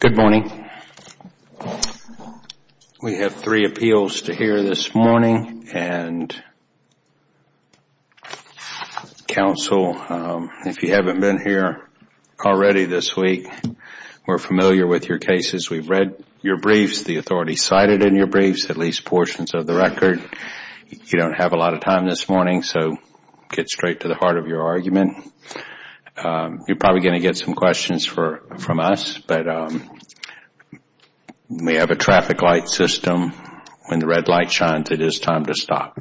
Good morning. We have three appeals to hear this morning and counsel, if you haven't been here already this week, we're familiar with your cases. We've read your briefs, the authority cited in your briefs, at least portions of the record. You don't have a lot of time this morning, so get straight to the heart of your argument. You're probably going to get some questions from us, but we have a traffic light system. When the red light shines, it is time to stop.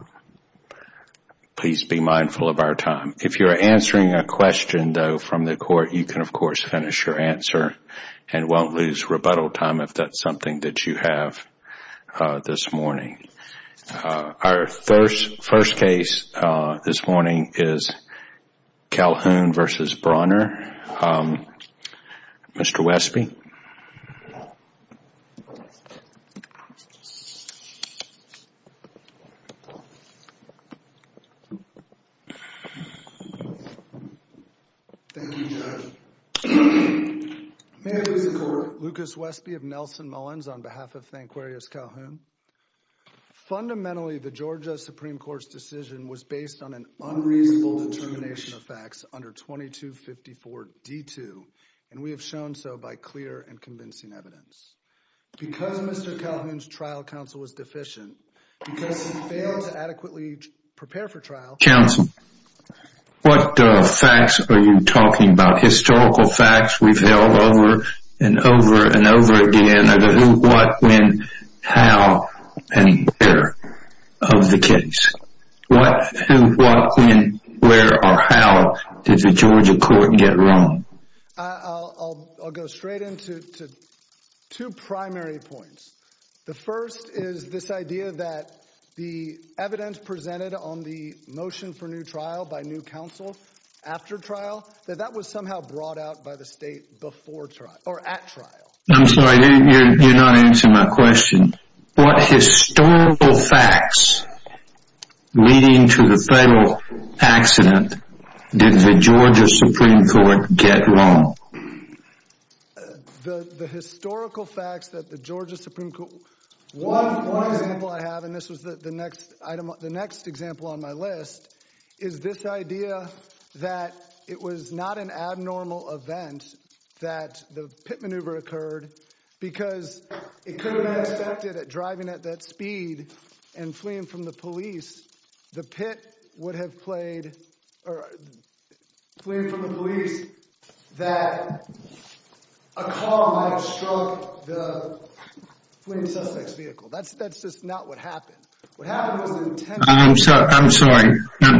Please be mindful of our time. If you're answering a question though from the court, you can of course finish your answer and won't lose rebuttal time if that's something that you have this morning. Our first case this morning is Calhoun v. Brawner. Mr. Westby. Thank you, Judge. May it please the Court, Lucas Westby of Nelson Mullins on behalf of Thanquarius Calhoun. Fundamentally, the Georgia Supreme Court's decision was based on an unreasonable determination of facts under 2254 D2, and we have shown so by clear and convincing evidence. Because Mr. Calhoun's trial counsel was deficient, because he failed to adequately prepare for trial... Counsel, what facts are you talking about? Historical facts we've held over and over again. What, when, how, and where of the case? What, who, what, when, where, or how did the Georgia court get wrong? I'll go straight into two primary points. The first is this idea that the evidence presented on the motion for new trial by new counsel after trial, that that was somehow brought out by the state before trial, or at trial. I'm sorry, you're not answering my question. What historical facts leading to the federal accident did the Georgia Supreme Court get wrong? The historical facts that the Georgia Supreme Court... One point... One example I have, and this was the next item, the next example on my list, is this abnormal event that the pit maneuver occurred, because it could have been expected that driving at that speed and fleeing from the police, the pit would have played, or fleeing from the police, that a car might have struck the fleeing Sussex vehicle. That's just not what happened. What happened was the intent... I'm sorry,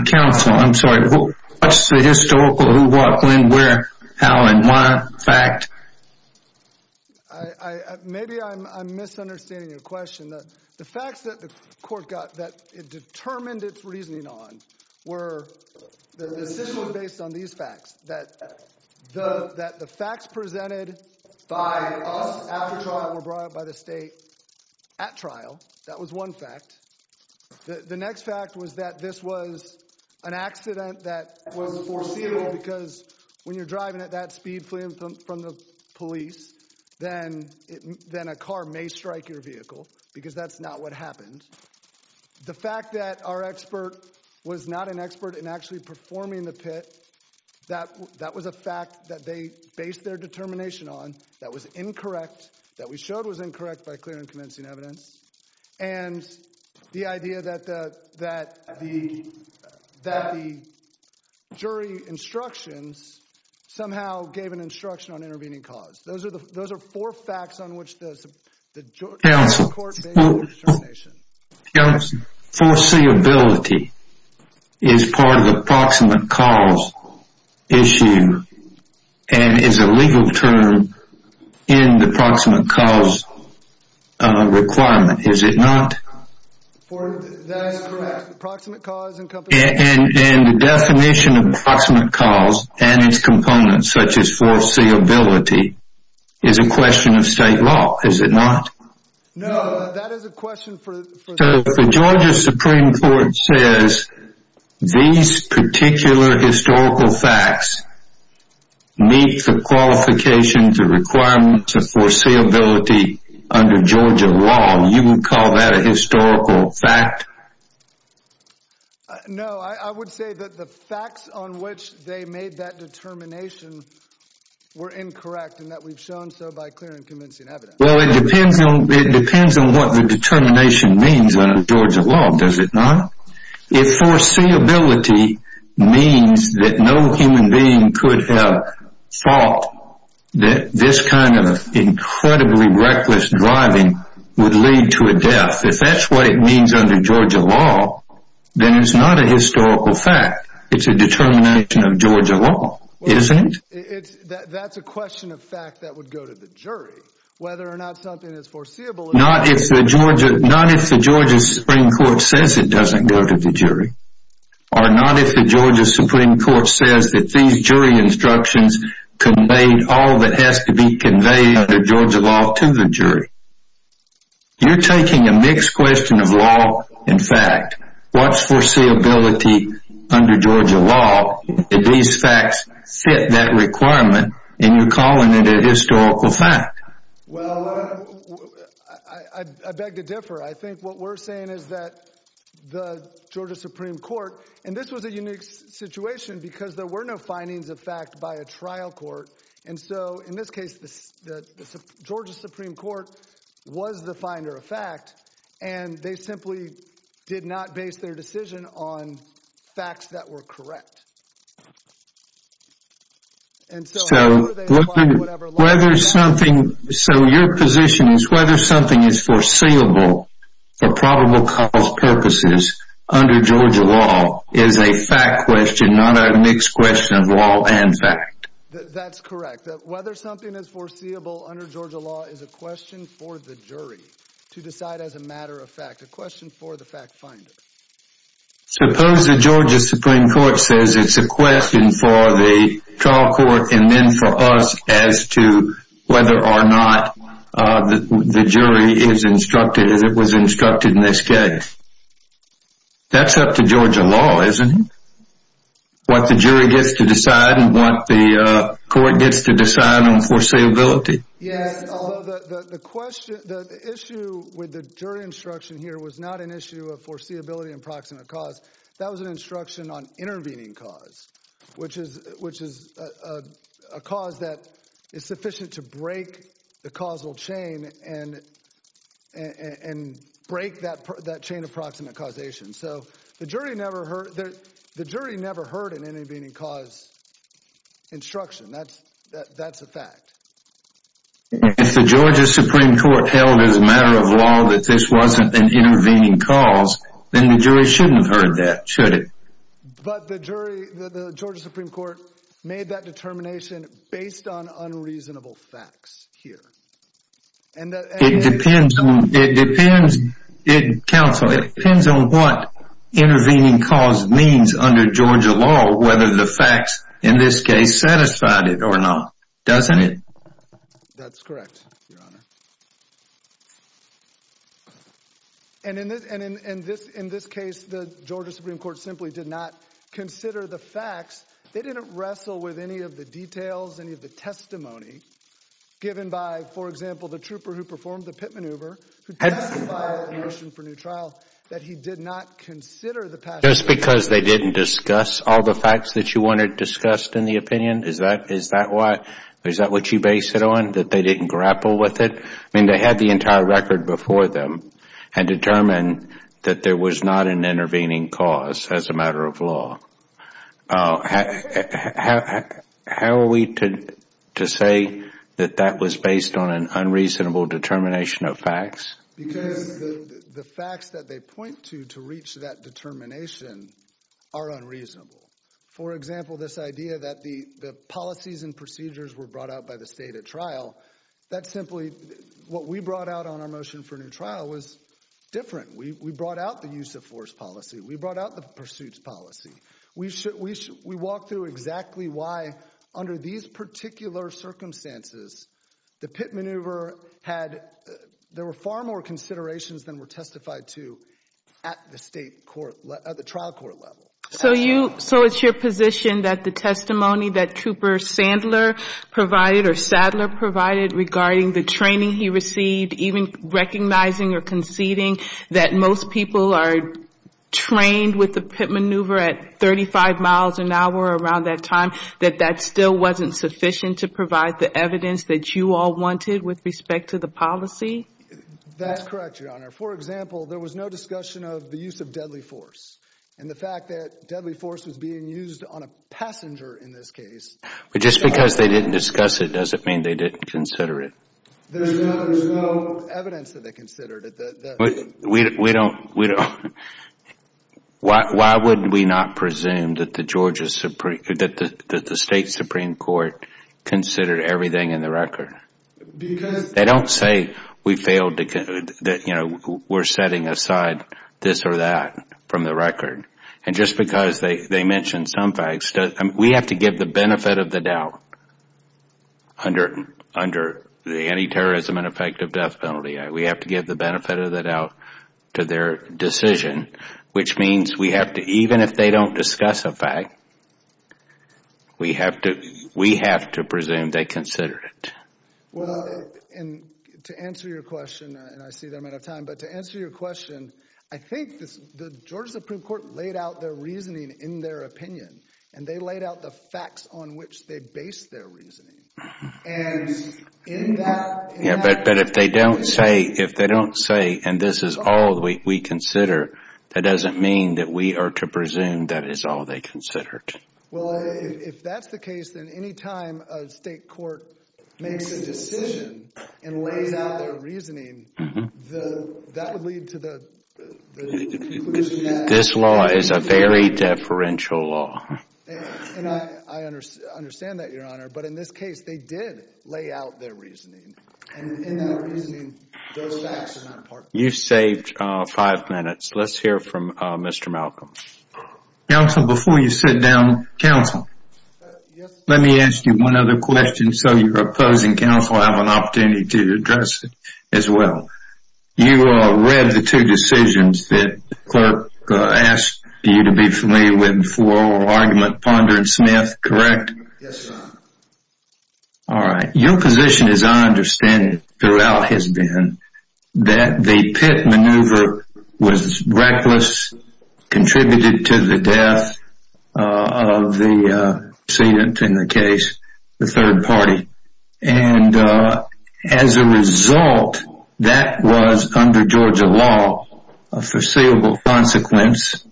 counsel, I'm sorry. What's the historical, who, what, when, where, how, and why fact? Maybe I'm misunderstanding your question. The facts that the court got that it determined its reasoning on were, the decision was based on these facts, that the facts presented by us after trial were brought up by the state at trial. That was one fact. The next fact was that this was an accident that was foreseeable, because when you're driving at that speed fleeing from the police, then a car may strike your vehicle, because that's not what happened. The fact that our expert was not an expert in actually performing the pit, that was a incorrect, that we showed was incorrect by clear and convincing evidence, and the idea that the, that the, that the jury instructions somehow gave an instruction on intervening cause. Those are the, those are four facts on which the, the court... Counsel, counsel, foreseeability is part of the proximate cause issue, and is a legal term in the proximate cause requirement, is it not? That is correct. Proximate cause encompasses... And the definition of proximate cause and its components, such as foreseeability, is a question of state law, is it not? No, that is a question for... So if the Georgia Supreme Court says these particular historical facts meet the qualifications and requirements of foreseeability under Georgia law, you would call that a historical fact? No, I would say that the facts on which they made that determination were incorrect, and that we've shown so by clear and convincing evidence. Well, it depends on, it depends on what the determination means under Georgia law, does it not? If foreseeability means that no human being could have thought that this kind of incredibly reckless driving would lead to a death, if that's what it means under Georgia law, then it's not a historical fact. It's a determination of Georgia law, isn't it? It's, that's a question of fact that would go to the jury, whether or not something is foreseeable... Not if the Georgia, not if the Georgia Supreme Court says it doesn't go to the jury, or not if the Georgia Supreme Court says that these jury instructions conveyed all that has to be conveyed under Georgia law to the jury. You're taking a mixed question of law and requirement, and you're calling it a historical fact. Well, I beg to differ. I think what we're saying is that the Georgia Supreme Court, and this was a unique situation because there were no findings of fact by a trial court, and so in this case, the Georgia Supreme Court was the finder of fact, and they simply did not base their decision on facts that were correct. So, whether something, so your position is whether something is foreseeable for probable cause purposes under Georgia law is a fact question, not a mixed question of law and fact. That's correct. That whether something is foreseeable under Georgia law is a question for the jury to decide as a matter of fact, a question for the fact finder. Suppose the Georgia Supreme Court says it's a question for the trial court and then for us as to whether or not the jury is instructed as it was instructed in this case. That's up to Georgia law, isn't it? What the jury gets to decide and what the court gets to decide on foreseeability. Yes, although the question, the issue with the jury instruction here was not an issue of foreseeability and proximate cause. That was an instruction on intervening cause, which is a cause that is sufficient to break the causal chain and break that chain of proximate causation. So, the jury never heard an intervening cause instruction. That's a fact. If the Georgia Supreme Court held as a matter of law that this wasn't an intervening cause, then the jury shouldn't have heard that, should it? But the jury, the Georgia Supreme Court made that determination based on unreasonable facts here. It depends, counsel, it depends on what intervening cause means under Georgia law, whether the facts in this case satisfied it or not, doesn't it? That's correct, Your Honor. And in this case, the Georgia Supreme Court simply did not consider the facts. They didn't wrestle with any of the details, any of the testimony given by, for example, the trooper who performed the pit maneuver, who testified in the motion for new trial, that he did not consider the facts. Just because they didn't discuss all the facts that you wanted discussed in the opinion, is that why, is that what you base it on, that they didn't grapple with it? I mean, they had the entire record before them and determined that there was not an intervening cause as a matter of law. How are we to say that that was based on an unreasonable determination of facts? Because the facts that they point to to reach that determination are unreasonable. For example, this idea that the policies and procedures were brought out by the state at trial, that simply, what we brought out on our motion for new trial was different. We brought out the use of force policy. We brought out the pursuits policy. We walked through exactly why, under these particular circumstances, the pit maneuver had, there were far more considerations than were testified to at the state court, at the trial court level. So you, so it's your position that the testimony that Trooper Sandler provided or Sadler provided regarding the training he received, even recognizing or conceding that most people are trained with the pit maneuver at 35 miles an hour around that time, that that still wasn't sufficient to provide the evidence that you all wanted with respect to the policy? That's correct, Your Honor. For example, there was no discussion of the use of deadly force. And the fact that deadly force was being used on a passenger in this case. But just because they didn't discuss it doesn't mean they didn't consider it. There's no evidence that they considered it. We don't, we don't, why wouldn't we not presume that the Georgia Supreme, that the State Supreme Court considered everything in the record? Because They don't say we failed to, that, you know, we're setting aside this or that from the record. And just because they mention some facts, we have to give the benefit of the doubt under the anti-terrorism and effective death penalty. We have to give the benefit of the doubt to their decision, which means we have to, even if they don't discuss a fact, we have to, we have to presume they consider it. Well, and to answer your question, and I see that I'm out of time, but to answer your question, I think the Georgia Supreme Court laid out their reasoning in their opinion. And they laid out the facts on which they based their reasoning. And in that Yeah, but if they don't say, if they don't say, and this is all we consider, that doesn't mean that we are to presume that is all they considered. Well, if that's the case, then any time a state court makes a decision and lays out their reasoning, that would lead to the conclusion that This law is a very deferential law. And I understand that, Your Honor. But in this case, they did lay out their reasoning. And in that reasoning, those facts are not a part of it. You saved five minutes. Let's hear from Mr. Malcolm. Counsel, before you sit down, Counsel, let me ask you one other question so your opposing counsel have an opportunity to address it as well. You read the two decisions that the clerk asked you to be familiar with for argument Ponder and Smith, correct? Yes, Your Honor. All right. Your position, as I understand it, throughout has been that the Pitt maneuver was reckless, contributed to the death of the defendant in the case, the third party. And as a result, that was, under Georgia law, a foreseeable consequence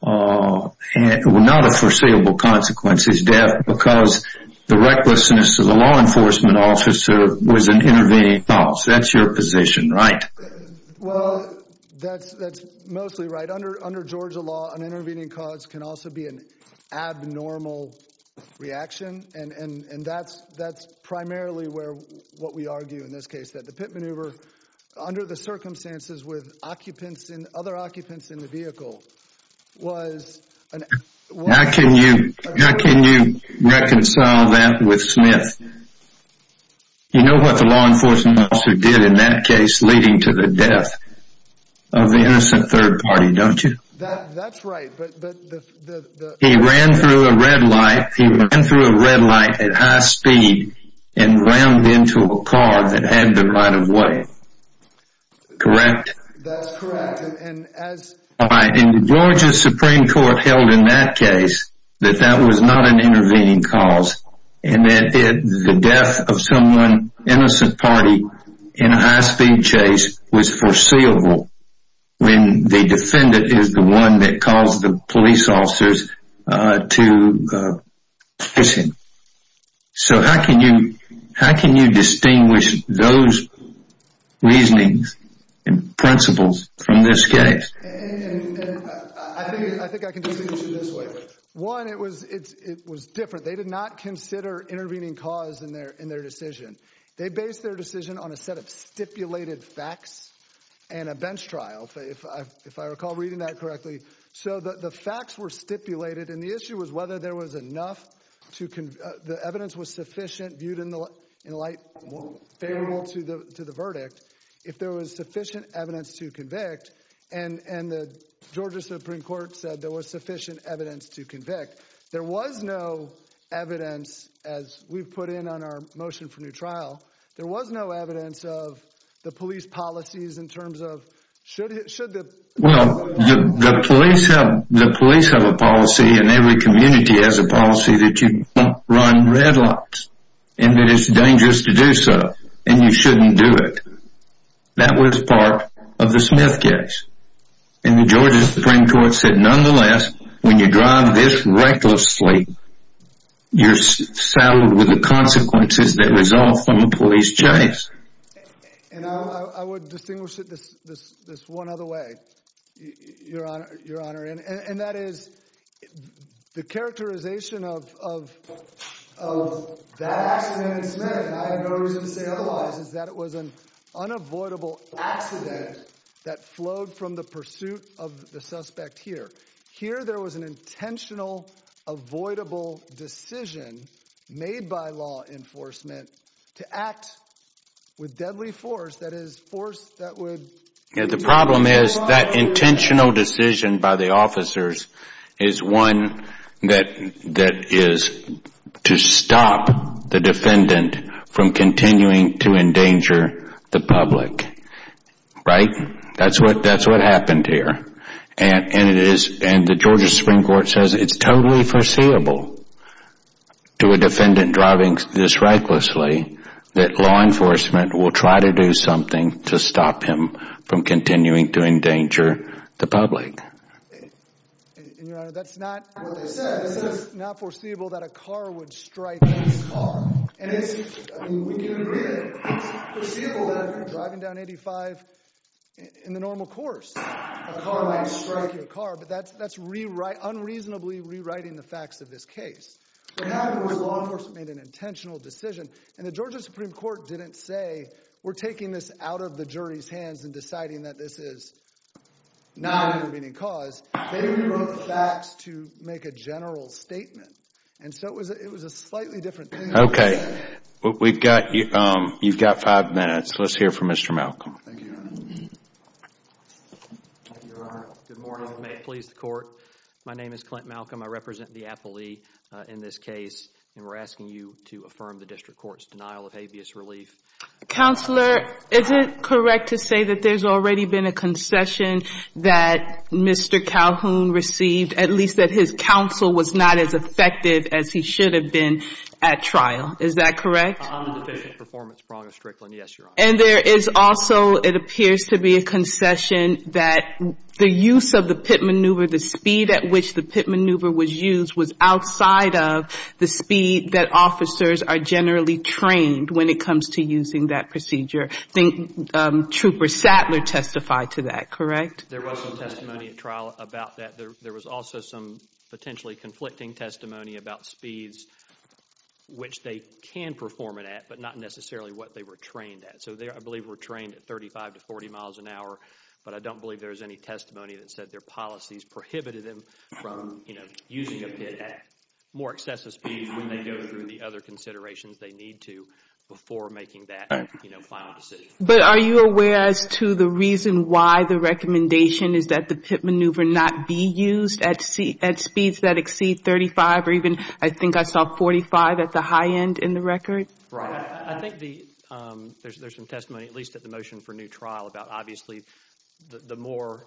Well, not a foreseeable consequence, his death, because the recklessness of the law enforcement officer was an intervening cause. That's your position, right? Well, that's mostly right. Under Georgia law, an intervening cause can also be an abnormal reaction. And that's primarily what we argue in this case, that the Pitt maneuver, under the circumstances with other occupants in the vehicle, was How can you reconcile that with Smith? You know what the law enforcement officer did in that case leading to the death of the innocent third party, don't you? That's right, but He ran through a red light He ran through a red light at high speed and rammed into a car that had the right of way. Correct? That's correct. And as The Georgia Supreme Court held in that case that that was not an intervening cause and that the death of someone, innocent party, in a high speed chase was foreseeable when the defendant is the one that caused the police officers to kiss him. So how can you distinguish those reasonings and principles from this case? I think I can distinguish them this way. One, it was different. They did not consider intervening cause in their decision. They based their decision on a set of stipulated facts and a bench trial, if I recall reading that correctly. So the facts were stipulated and the issue was whether there was enough the evidence was sufficient viewed in light to the verdict. If there was sufficient evidence to convict and the Georgia Supreme Court said there was sufficient evidence to convict, there was no evidence as we've put in on our motion for new trial there was no evidence of the police policies in terms of should the The police have a policy and every community has a policy that you don't run red lights and that it's dangerous to do so and you shouldn't do it. That was part of the Smith case and the Georgia Supreme Court said nonetheless when you drive this recklessly you're saddled with the consequences that result from a police chase. And I would distinguish it this one other way your honor and that is the characterization of that accident in Smith and I have no reason to say otherwise is that it was an unavoidable accident that flowed from the pursuit of the suspect here. Here there was an intentional avoidable decision made by law enforcement to act with deadly force that is force that would The problem is that intentional decision by the officers is one that that is to stop the defendant from continuing to endanger the public right? That's what happened here and it is and the Georgia Supreme Court says it's totally foreseeable to a defendant driving this recklessly that law enforcement will try to do something to stop him from continuing to endanger the public and your honor that's not what they said it's not foreseeable that a car would strike his car and it's I mean we can agree that it's foreseeable that if you're driving down 85 in the normal course a car might strike your car but that's unreasonably rewriting the facts of this case so now the law enforcement made an intentional decision and the Georgia Supreme Court didn't say we're taking this out of the jury's hands and deciding that this is not an intervening cause. They rewrote the facts to make a general statement and so it was a slightly different case. Okay you've got five minutes let's hear from Mr. Malcolm Good morning, may it please the court my name is Clint Malcolm I represent the appellee in this case and we're asking you to affirm the district court's denial of habeas relief Counselor, is it correct to say that there's already been a concession that Mr. Calhoun received at least that his counsel was not as confident at trial, is that correct? I'm a deficient performance prong of Strickland and there is also it appears to be a concession that the use of the pit maneuver the speed at which the pit maneuver was used was outside of the speed that officers are generally trained when it comes to using that procedure I think Trooper Sattler testified to that, correct? There was some testimony at trial about that there was also some potentially conflicting testimony about speeds which they can perform it at, but not necessarily what they were trained at, so I believe they were trained at 35 to 40 miles an hour, but I don't believe there was any testimony that said their policies prohibited them from using a pit at more excessive speeds when they go through the other considerations they need to before making that final decision But are you aware as to the reason why the recommendation is that the pit maneuver not be used at speeds that exceed 35 or even I think I saw 45 at the high end in the record I think there's some testimony, at least at the motion for new trial about obviously the more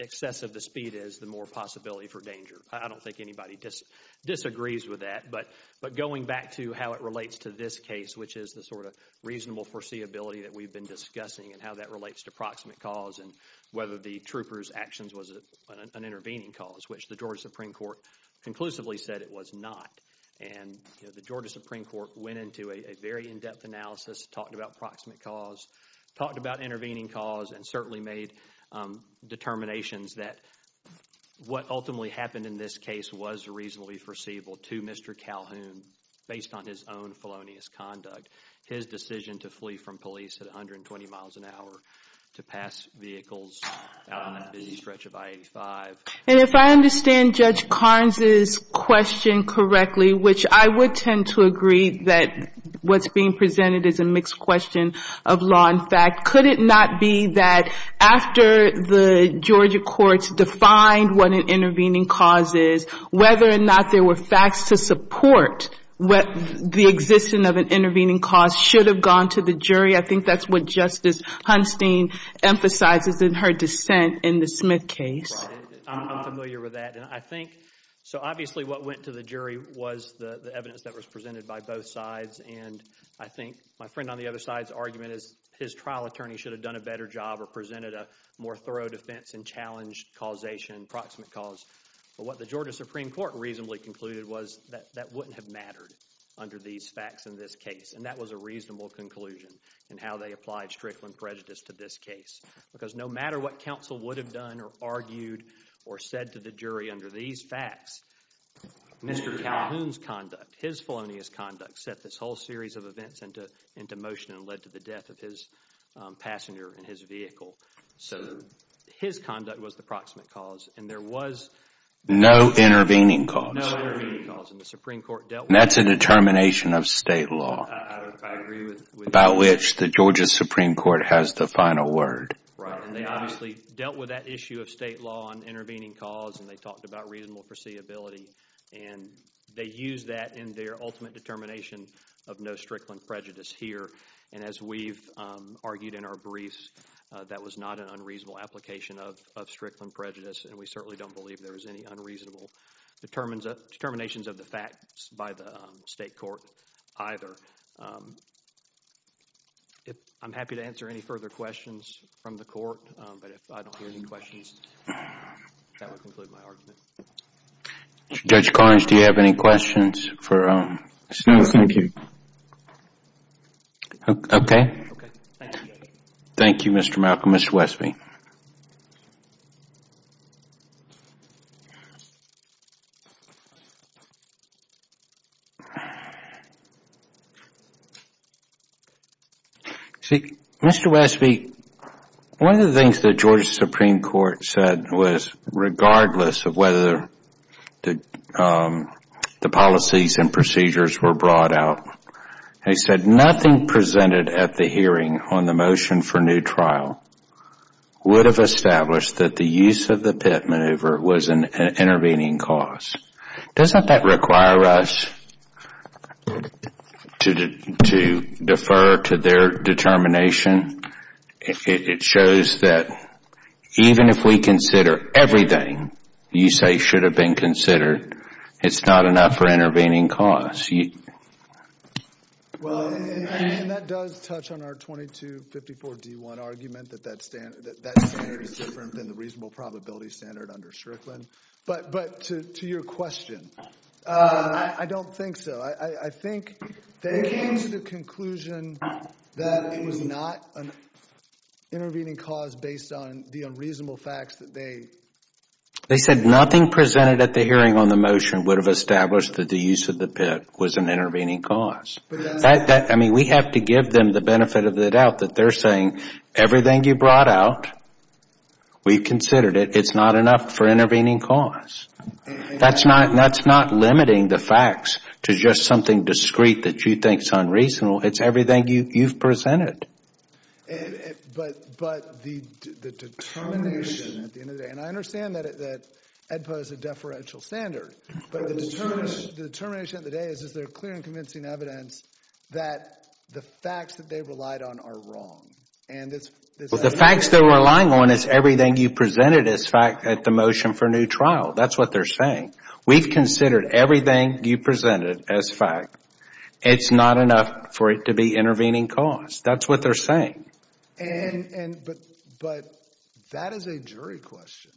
excessive the speed is, the more possibility for danger I don't think anybody disagrees with that, but going back to how it relates to this case, which is the sort of reasonable foreseeability that we've been discussing and how that relates to proximate cause and whether the trooper's actions was an intervening cause, which the Georgia Supreme Court conclusively said it was not, and the Georgia Supreme Court went into a very in-depth analysis, talked about proximate cause, talked about intervening cause, and certainly made determinations that what ultimately happened in this case was reasonably foreseeable to Mr. Calhoun based on his own felonious conduct, his decision to flee from police at 120 miles an hour to pass vehicles out on the busy stretch of I-85. And if I understand Judge Carnes' question correctly, which I would tend to agree that what's being presented is a mixed question of law and fact, could it not be that after the Georgia courts defined what an intervening cause is whether or not there were facts to support the existence of an intervening cause should have gone to the jury? I think that's what arises in her dissent in the Smith case. I'm familiar with that and I think, so obviously what went to the jury was the evidence that was presented by both sides and I think my friend on the other side's argument is his trial attorney should have done a better job or presented a more thorough defense and challenged causation and proximate cause. But what the Georgia Supreme Court reasonably concluded was that that wouldn't have mattered under these facts in this case, and that was a reasonable conclusion in how they applied Strickland prejudice to this case. Because no matter what counsel would have done or argued or said to the jury Mr. Calhoun's conduct, his felonious conduct, set this whole series of events into motion and led to the death of his passenger in his vehicle. So his conduct was the proximate cause and there was no intervening cause. No intervening cause. And the Supreme Court dealt with that. That's a determination of state law. I agree with you. About which the Georgia Supreme Court has the final word. They obviously dealt with that issue of state law on intervening cause and they talked about reasonable foreseeability and they used that in their ultimate determination of no Strickland prejudice here. And as we've argued in our briefs that was not an unreasonable application of Strickland prejudice and we certainly don't believe there was any unreasonable determinations of the facts by the state court either. I'm happy to answer any further questions from the court, but if I don't hear any questions that would conclude my argument. Judge Collins, do you have any questions? No, thank you. Okay. Thank you, Judge. Thank you, Mr. Malcolm. Mr. Westby. Mr. Westby, one of the things the Georgia Supreme Court said was regardless of whether the policies and procedures were brought out, they said nothing presented at the hearing on the motion for new trial would have established that the use of the Pitt maneuver was an intervening cause. Doesn't that require us to defer to their determination? It shows that even if we consider everything you say should have been considered, it's not enough for intervening cause. Well, that does touch on our 2254-D1 argument that that standard is different than the reasonable probability standard under Strickland. But to your question, I don't think so. I think they came to the conclusion that it was not an intervening cause based on the unreasonable facts that they They said nothing presented at the hearing on the motion would have established that the use of the Pitt was an intervening cause. I mean, we have to give them the benefit of the doubt that they're saying everything you brought out, we've considered it, it's not enough for intervening cause. That's not limiting the facts to just something discreet that you think is unreasonable. It's everything you've presented. But the determination at the end of the day, and I understand that EDPA is a deferential standard, but the determination at the end of the day is, is there clear and convincing evidence that the facts that they relied on are wrong? The facts they're relying on is everything you presented as fact at the motion for new trial. That's what they're saying. We've considered everything you presented as fact. It's not enough for it to be intervening cause. That's what they're saying. But that is a jury question.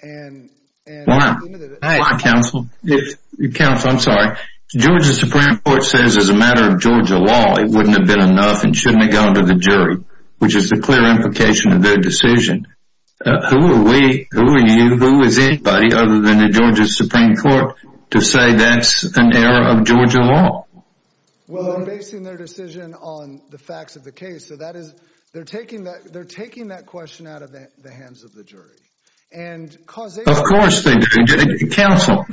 And Counsel, I'm sorry. Georgia Supreme Court says as a matter of Georgia law, it wouldn't have been enough and shouldn't have gone to the jury, which is the clear implication of their decision. Who are we? Who are you? Who is anybody other than the Georgia Supreme Court to say that's an error of Georgia law? Well, I'm basing their decision on the facts of the case, so that is, they're taking that question out of the hands of the jury. Of course they do, Counsel.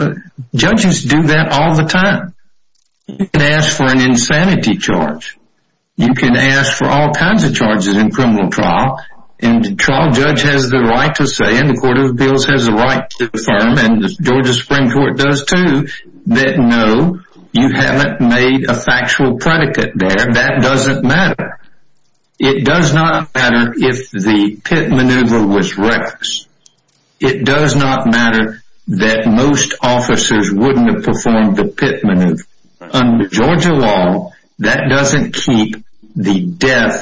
Judges do that all the time. You can ask for an insanity charge. You can ask for all kinds of charges in criminal trial. And the trial judge has the right to say, and the Court of Appeals has the right to affirm, and the Georgia Supreme Court does too, that no, you haven't made a factual predicate there. That doesn't matter. It does not matter if the pit maneuver was reckless. It does not matter that most officers wouldn't have performed the pit maneuver. Under Georgia law, that doesn't keep a death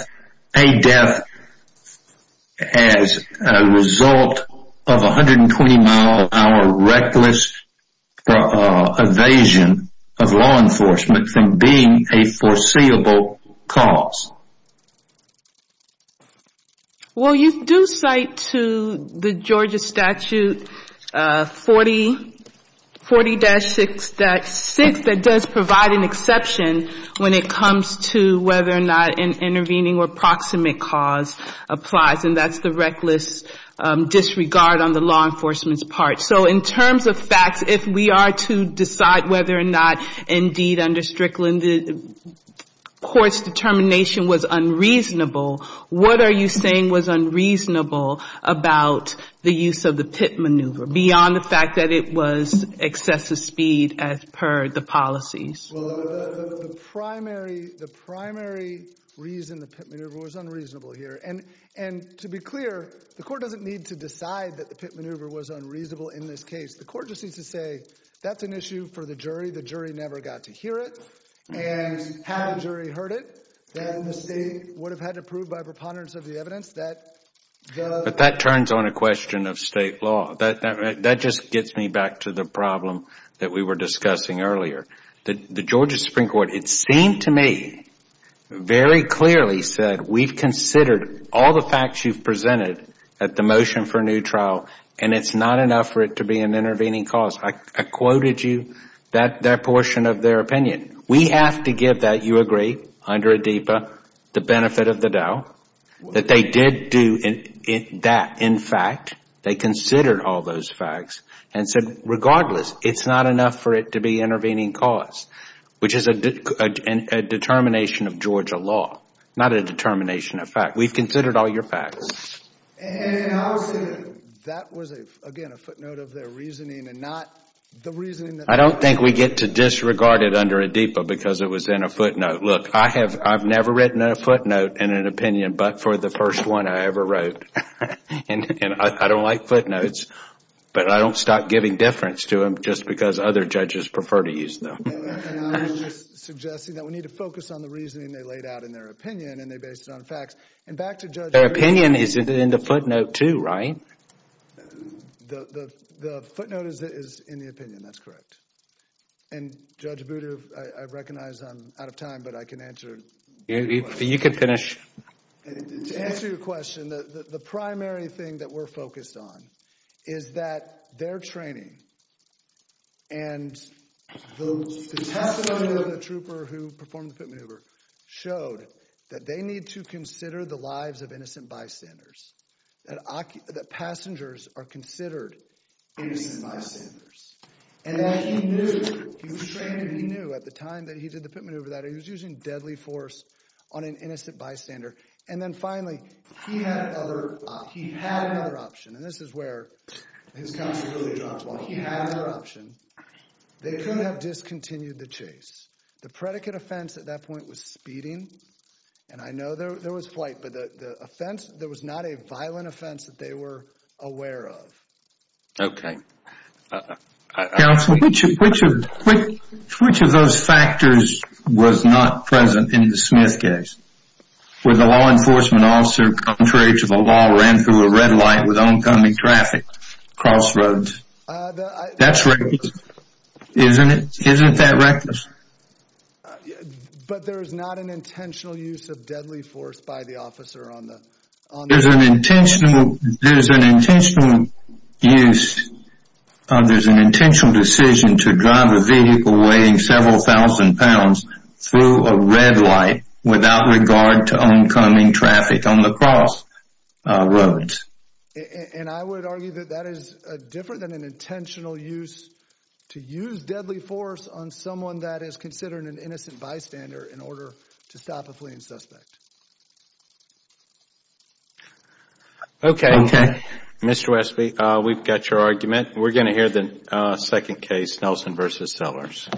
as a result of a 120 mile per hour reckless evasion of law enforcement from being a foreseeable cause. Well, you do cite to the Georgia statute 40 40-6 that does provide an exception when it comes to whether or not an intervening or proximate cause applies. And that's the reckless disregard on the law enforcement's part. So in terms of facts, if we are to decide whether or not indeed under Strickland the Court's determination was unreasonable, what are you saying was unreasonable about the use of the pit maneuver beyond the fact that it was excessive speed as per the policies? The primary reason the pit maneuver was unreasonable here. And to be clear the Court doesn't need to decide that the pit maneuver was unreasonable in this case. The Court just needs to say that's an issue for the jury. The jury never got to hear it. And had the jury heard it, then the state would have had to prove by preponderance of the evidence that the... But that turns on a question of state law. That just gets me back to the problem that we were discussing earlier. The Georgia Supreme Court, it seemed to me, very clearly said, we've considered all the facts you've presented at the motion for a new trial and it's not enough for it to be an intervening cause. I quoted you that portion of their opinion. We have to give that, you agree, under ADEPA, the benefit of the doubt. That they did do that, in fact. They considered all those facts and said, regardless, it's not enough for it to be an intervening cause. Which is a determination of Georgia law. Not a determination of fact. We've considered all your facts. That was, again, a footnote of their reasoning and not the reasoning that... I don't think we get to disregard it under ADEPA because it was in a footnote. Look, I have never written a footnote in an opinion but for the first one I ever wrote. And I don't like footnotes, but I don't stop giving difference to them just because other judges prefer to use them. I'm just suggesting that we need to focus on the reasoning they laid out in their opinion and they based it on facts. And back to Judge... Their opinion is in the footnote too, right? The footnote is in the opinion, that's correct. And Judge Booter, I recognize I'm out of time but I can answer your question. You can finish. To answer your question, the primary thing that we're focused on is that their training and the testimony of the trooper who performed the pit maneuver showed that they need to consider the lives of innocent bystanders. That passengers are considered innocent bystanders. And that he knew he was trained and he knew at the time that he did the pit maneuver that he was using deadly force on an innocent bystander and then finally he had another option and this is where his counsel really dropped while he had another option they could have discontinued the chase. The predicate offense at that point was speeding and I know there was flight but the offense, there was not a violent offense that they were aware of. Okay. Counsel, which of those factors was not present in the law enforcement officer contrary to the law ran through a red light with oncoming traffic across roads? That's reckless. Isn't it? Isn't that reckless? But there's not an intentional use of deadly force by the officer on the There's an intentional There's an intentional use There's an intentional decision to drive a vehicle weighing several thousand pounds through a red light without regard to oncoming traffic on the cross roads. And I would argue that that is different than an intentional use to use deadly force on someone that is considered an innocent bystander in order to stop a fleeing suspect. Okay. Okay. Mr. Westby, we've got your argument We're going to hear the second case Nelson v. Sellers.